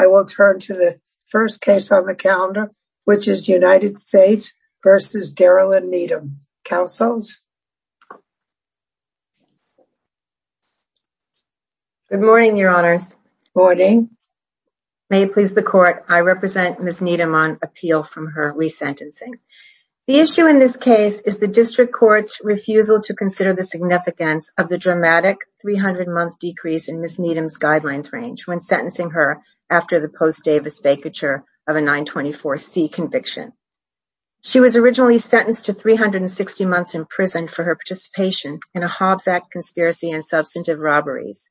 I will turn to the first case on the calendar, which is United States v. Daryl and Needham. Counsels? Good morning, Your Honors. Good morning. May it please the Court, I represent Ms. Needham on appeal from her resentencing. The issue in this case is the District Court's refusal to consider the significance of the after the post-Davis vacature of a 924C conviction. She was originally sentenced to 360 months in prison for her participation in a Hobbs Act conspiracy and substantive robberies.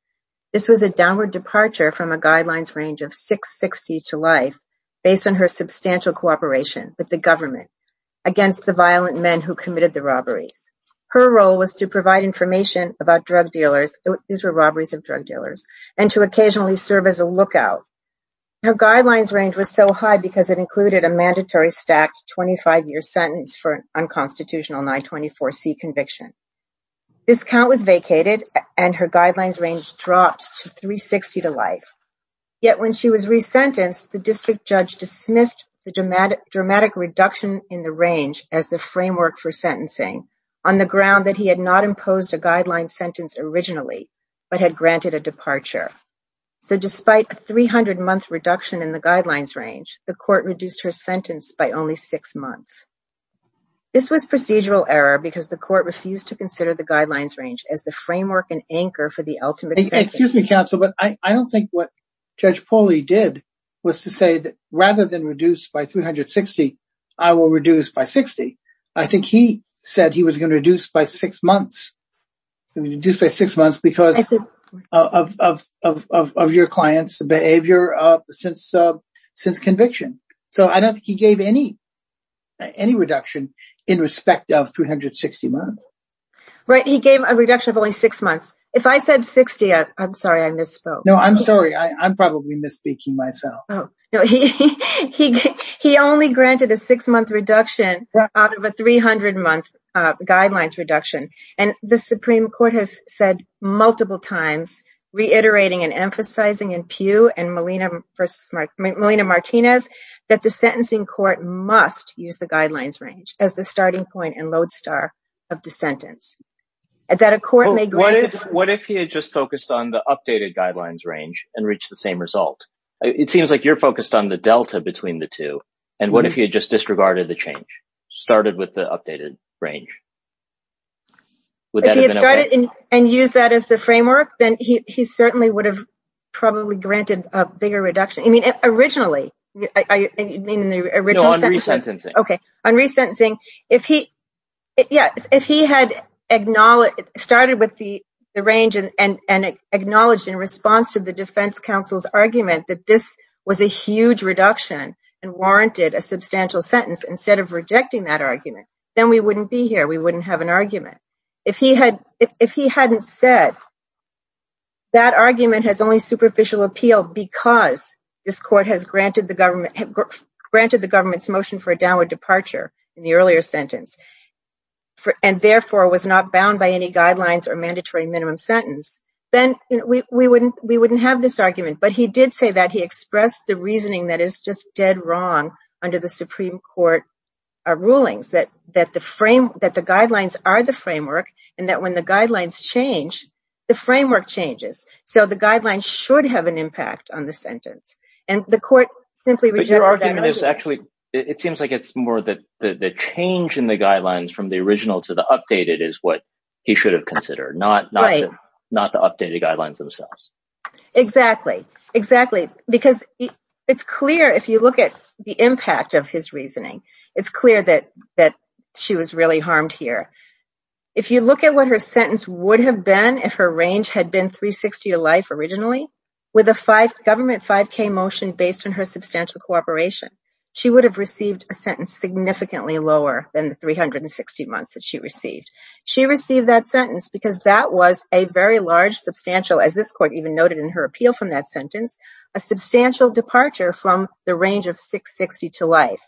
This was a downward departure from a guidelines range of 660 to life based on her substantial cooperation with the government against the violent men who committed the robberies. Her role was to provide information about drug dealers, these were robberies of drug dealers, and to occasionally serve as a lookout. Her guidelines range was so high because it included a mandatory stacked 25-year sentence for an unconstitutional 924C conviction. This count was vacated and her guidelines range dropped to 360 to life. Yet when she was resentenced, the district judge dismissed the dramatic reduction in the range as the framework for sentencing on the ground that he had not imposed a guideline sentence originally, but had granted a departure. So despite a 300-month reduction in the guidelines range, the court reduced her sentence by only six months. This was procedural error because the court refused to consider the guidelines range as the framework and anchor for the ultimate sentence. Excuse me, counsel, but I don't think what Judge Pauly did was to say that rather than reduce by 360, I will reduce by 60. I think he said he was going to reduce by six months, reduce by six months because of your client's behavior since conviction. So I don't think he gave any reduction in respect of 360 months. Right. He gave a reduction of only six months. If I said 60, I'm sorry, I misspoke. No, I'm sorry. I'm probably misspeaking myself. No, he only granted a six-month reduction out of a 300-month guidelines reduction. And the Supreme Court has said multiple times, reiterating and emphasizing in Pugh and Melina Martinez, that the sentencing court must use the guidelines range as the starting point and lodestar of the sentence. What if he had just focused on the updated guidelines range and reached the same result? It seems like you're focused on the delta between the two. And what if he had just disregarded the change, started with the updated range? If he had started and used that as the framework, then he certainly would have probably granted a bigger reduction. I mean, originally, I mean, in the original sentencing. Okay. On resentencing, if he, yeah, if he had started with the range and acknowledged in response to the defense counsel's argument that this was a huge reduction and warranted a substantial sentence, instead of rejecting that argument, then we wouldn't be here. We wouldn't have an argument. If he hadn't said that argument has only superficial appeal because this court has granted the government's motion for a downward departure in the earlier sentence, and therefore was not bound by any guidelines or mandatory minimum sentence, then we wouldn't have this argument. But he did say that he expressed the reasoning that is just dead wrong under the Supreme Court rulings, that the guidelines are the framework, and that when the guidelines change, the framework changes. So the guidelines should have an impact on the sentence. And the court simply rejected that argument. It seems like it's more that the change in the guidelines from the original to the updated is what he should have considered, not the updated guidelines themselves. Exactly. Exactly. Because it's clear, if you look at the impact of his reasoning, it's clear that she was really harmed here. If you look at what her sentence would have been if her range had been 360 to life originally, with a government 5K motion based on her substantial cooperation, she would have received a sentence significantly lower than the 360 months that she received. She received that sentence because that was a very large substantial, as this court even noted in her appeal from that sentence, a substantial departure from the range of 660 to life.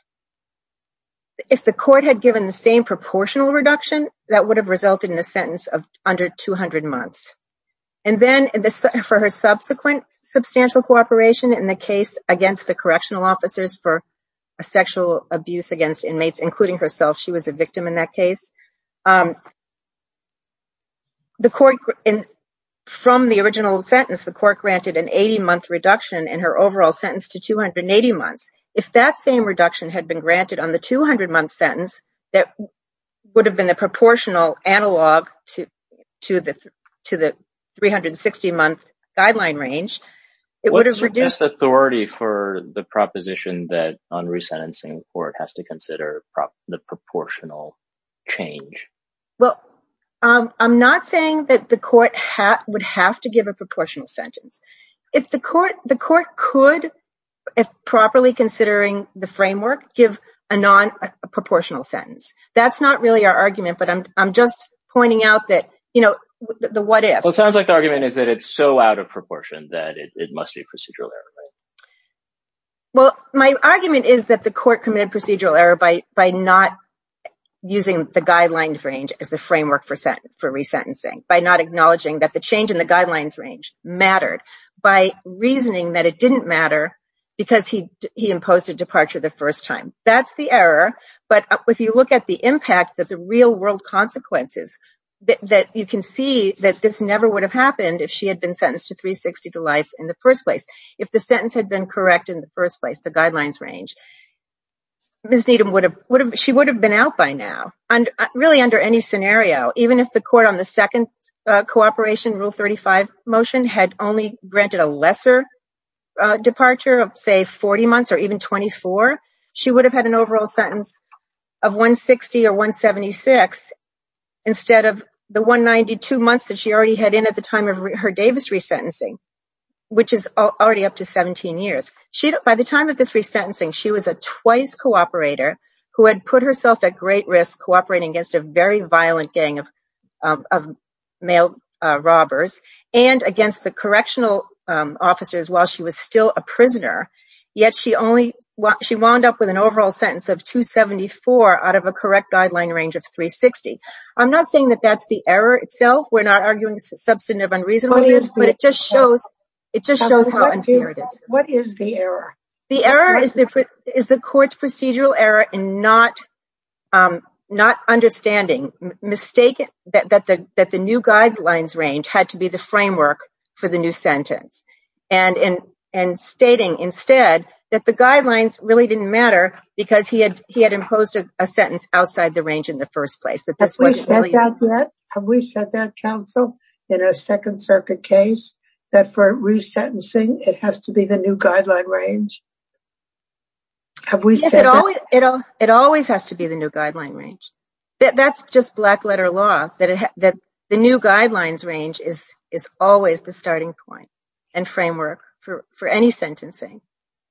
If the court had given the same proportional reduction, that would have resulted in a sentence of under 200 months. And then for her subsequent substantial cooperation in the case against the correctional officers for sexual abuse against inmates, including herself, she was a victim in that case. From the original sentence, the court granted an 80 month reduction in her overall sentence to 280 months. If that same reduction had been granted on the 200 month sentence, that would have been a proportional analog to the 360 month guideline range, it would have reduced- Well, I'm not saying that the court would have to give a proportional sentence. The court could, if properly considering the framework, give a non-proportional sentence. That's not really our argument, but I'm just pointing out that, you know, the what ifs. Well, it sounds like the argument is that it's so out of proportion that it must be a procedural error. Well, my argument is that the court committed a procedural error by not using the guidelines range as the framework for resentencing, by not acknowledging that the change in the guidelines range mattered, by reasoning that it didn't matter because he imposed a departure the first time. That's the error, but if you look at the impact of the real world consequences, you can see that this never would have happened if she had been sentenced to 360 to life in the first place. If the sentence had been correct in the first place, the guidelines range, Ms. Needham, she would have been out by now, really under any scenario. Even if the court on the second cooperation rule 35 motion had only granted a lesser departure of say 40 months or even 24, she would have had an overall sentence of 160 or 176 instead of the 192 months that she already had in at the time of her Davis resentencing, which is already up to 17 years. By the time of this resentencing, she was a twice cooperator who had put herself at great risk cooperating against a very violent gang of male robbers and against the correctional officers while she was still a prisoner, yet she only wound up with an overall sentence of 274 out of a correct guideline range of 360. I'm not saying that that's the error itself. We're not arguing substantive unreasonableness, but it just shows how unfair it is. What is the error? The error is the court's procedural error in not understanding, mistaken that the new guidelines range had to be the framework for the new sentence and stating instead that the guidelines really didn't matter because he had imposed a sentence outside the range in the first place. Have we said that yet? Have we said that, counsel, in a Second Circuit case, that for resentencing it has to be the new guideline range? Have we said that? Yes, it always has to be the new guideline range. That's just black letter law, that the new guidelines range is always the starting point and framework for any sentencing,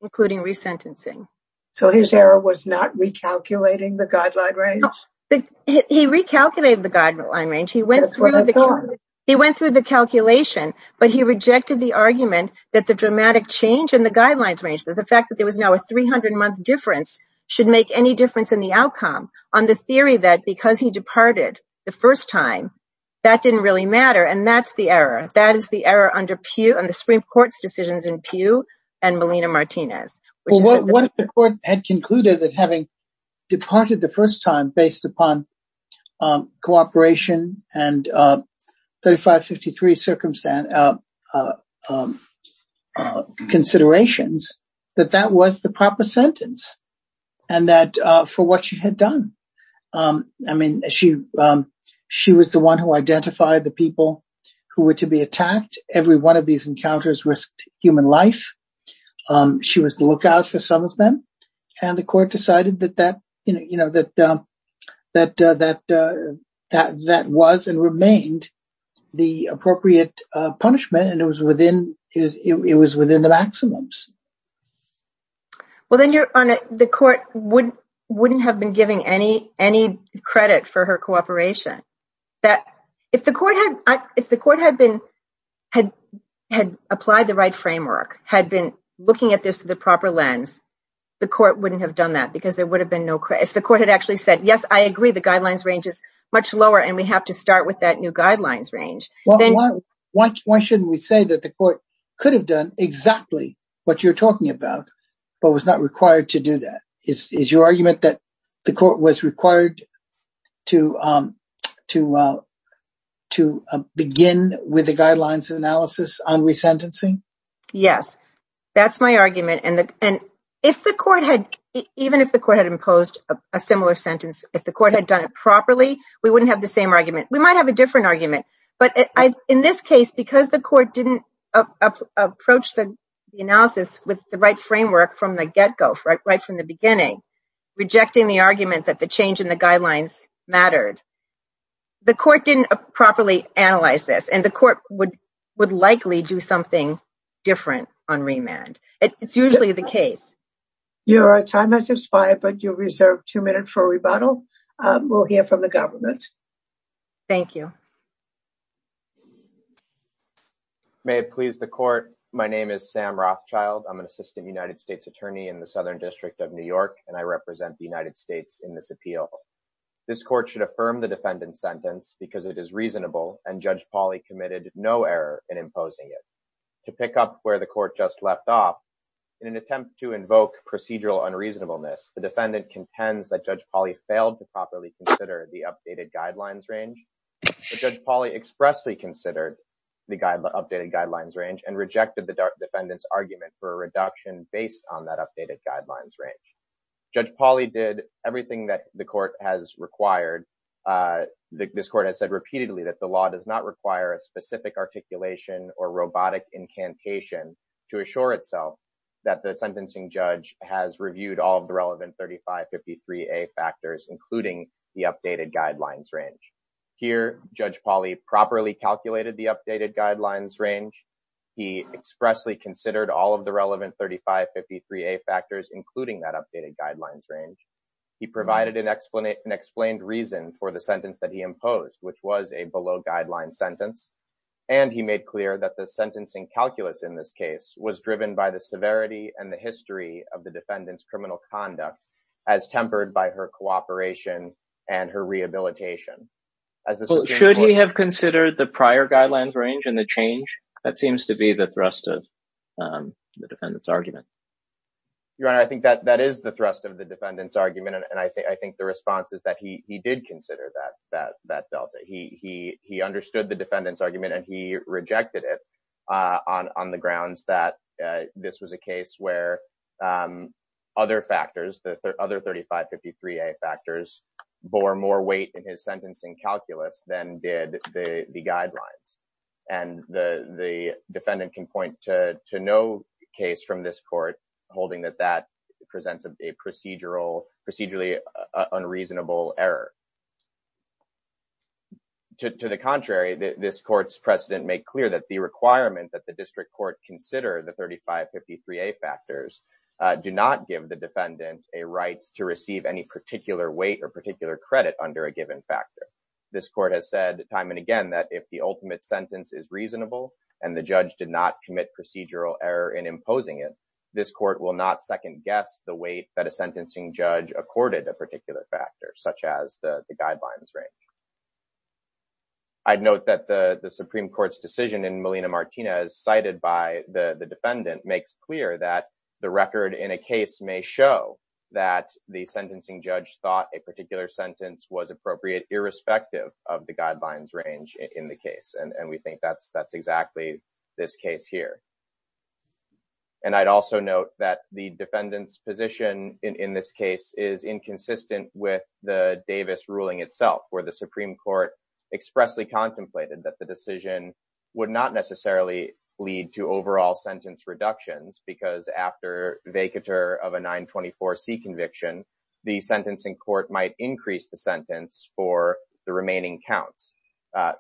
including resentencing. So his error was not recalculating the guideline range? No, he recalculated the guideline range. He went through the calculation, but he rejected the argument that the dramatic change in the guidelines range, that the fact that there was now a 300-month difference, should make any difference in the outcome on the theory that because he departed the first time, that didn't really matter. And that's the error. That is the error under the Supreme Court's decisions in Pew and Melina Martinez. What if the court had concluded that having departed the first time based upon cooperation and 3553 considerations, that that was the proper sentence and that for what she had done. I mean, she was the one who identified the people who were to be attacked. Every one of these encounters risked human life. She was the lookout for some of them. And the court decided that that, you know, that that that that that was and remained the appropriate punishment. And it was within it was within the maximums. Well, then you're on the court wouldn't wouldn't have been giving any any credit for her cooperation that if the court had if the court had been had had applied the right framework, had been looking at this through the proper lens, the court wouldn't have done that because there would have been no if the court had actually said, yes, I agree, the guidelines range is much lower and we have to start with that new guidelines range. Why why shouldn't we say that the court could have done exactly what you're talking about, but was not required to do that? Is your argument that the court was required to to to begin with the guidelines analysis on resentencing? Yes, that's my argument. And if the court had even if the court had imposed a similar sentence, if the court had done it properly, we wouldn't have the same argument. We might have a different argument. But in this case, because the court didn't approach the analysis with the right framework from the get go, right from the beginning, rejecting the argument that the change in the guidelines mattered. The court didn't properly analyze this, and the court would would likely do something different on remand. It's usually the case. Your time has expired, but you're reserved two minutes for rebuttal. We'll hear from the government. Thank you. May it please the court. My name is Sam Rothschild. I'm an assistant United States attorney in the Southern District of New York, and I represent the United States in this appeal. This court should affirm the defendant's sentence because it is reasonable and Judge Pauly committed no error in imposing it to pick up where the court just left off in an attempt to invoke procedural unreasonableness. The defendant contends that Judge Pauly failed to properly consider the updated guidelines range. Judge Pauly expressly considered the updated guidelines range and rejected the defendant's argument for a reduction based on that updated guidelines range. Judge Pauly did everything that the court has required. This court has said repeatedly that the law does not require a specific articulation or robotic incantation to assure itself that the sentencing judge has reviewed all of the relevant thirty five fifty three a factors, including the updated guidelines range. Here, Judge Pauly properly calculated the updated guidelines range. He expressly considered all of the relevant thirty five fifty three a factors, including that updated guidelines range. He provided an explanation, explained reason for the sentence that he imposed, which was a below guideline sentence. And he made clear that the sentencing calculus in this case was driven by the severity and the history of the defendant's criminal conduct as tempered by her cooperation and her rehabilitation. Should he have considered the prior guidelines range and the change that seems to be the thrust of the defendant's argument? Your Honor, I think that that is the thrust of the defendant's argument. And I think I think the response is that he he did consider that that that Delta he he he understood the defendant's argument and he rejected it on on the grounds that this was a case where other factors, the other thirty five fifty three a factors bore more weight in his sentencing calculus than did the guidelines. And the defendant can point to to no case from this court holding that that presents a procedural procedurally unreasonable error. To the contrary, this court's precedent make clear that the requirement that the district court consider the thirty five fifty three a factors do not give the defendant a right to receive any particular weight or particular credit under a given factor. This court has said time and again that if the ultimate sentence is reasonable and the judge did not commit procedural error in imposing it, this court will not second guess the weight that a sentencing judge accorded a particular factor such as the guidelines range. I'd note that the Supreme Court's decision in Molina Martinez cited by the defendant makes clear that the record in a case may show that the sentencing judge thought a particular sentence was appropriate irrespective of the guidelines range in the case. And we think that's that's exactly this case here. And I'd also note that the defendant's position in this case is inconsistent with the Davis ruling itself, where the Supreme Court expressly contemplated that the decision would not lead to overall sentence reductions because after vacatur of a nine twenty four C conviction, the sentencing court might increase the sentence for the remaining counts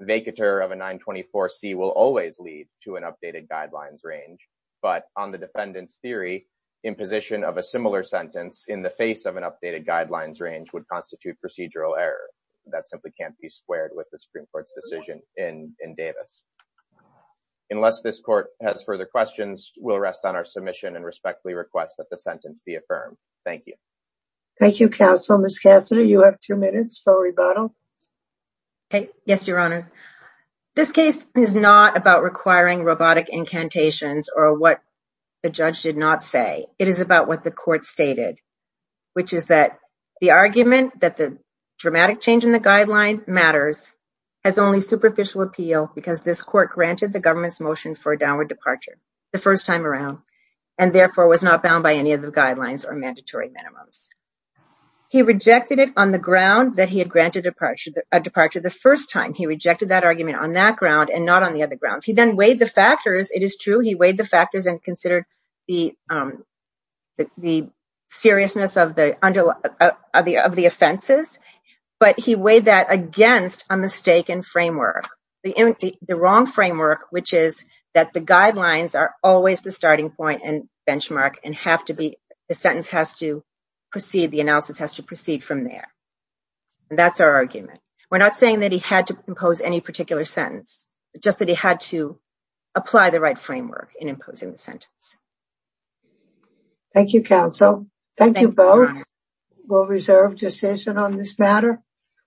vacatur of a nine twenty four C will always lead to an updated guidelines range. But on the defendant's theory, imposition of a similar sentence in the face of an updated guidelines range would constitute procedural error that simply can't be squared with the Supreme Court's decision in Davis. Unless this court has further questions, we'll rest on our submission and respectfully request that the sentence be affirmed. Thank you. Thank you, counsel. Miss Cassidy, you have two minutes for rebuttal. Okay. Yes, your honor. This case is not about requiring robotic incantations or what the judge did not say. It is about what the court stated, which is that the argument that the dramatic change in the guideline matters has only superficial appeal because this court granted the government's motion for a downward departure the first time around and therefore was not bound by any of the guidelines or mandatory minimums. He rejected it on the ground that he had granted departure departure the first time. He rejected that argument on that ground and not on the other grounds. He then weighed the factors. It is true. He weighed the factors and considered the seriousness of the of the offenses. But he weighed that against a mistaken framework, the wrong framework, which is that the guidelines are always the starting point and benchmark and have to be the sentence has to proceed. The analysis has to proceed from there. That's our argument. We're not saying that he had to impose any particular sentence, just that he had to apply the right framework in imposing the sentence. Thank you, counsel. Thank you both. We'll reserve decision on this matter.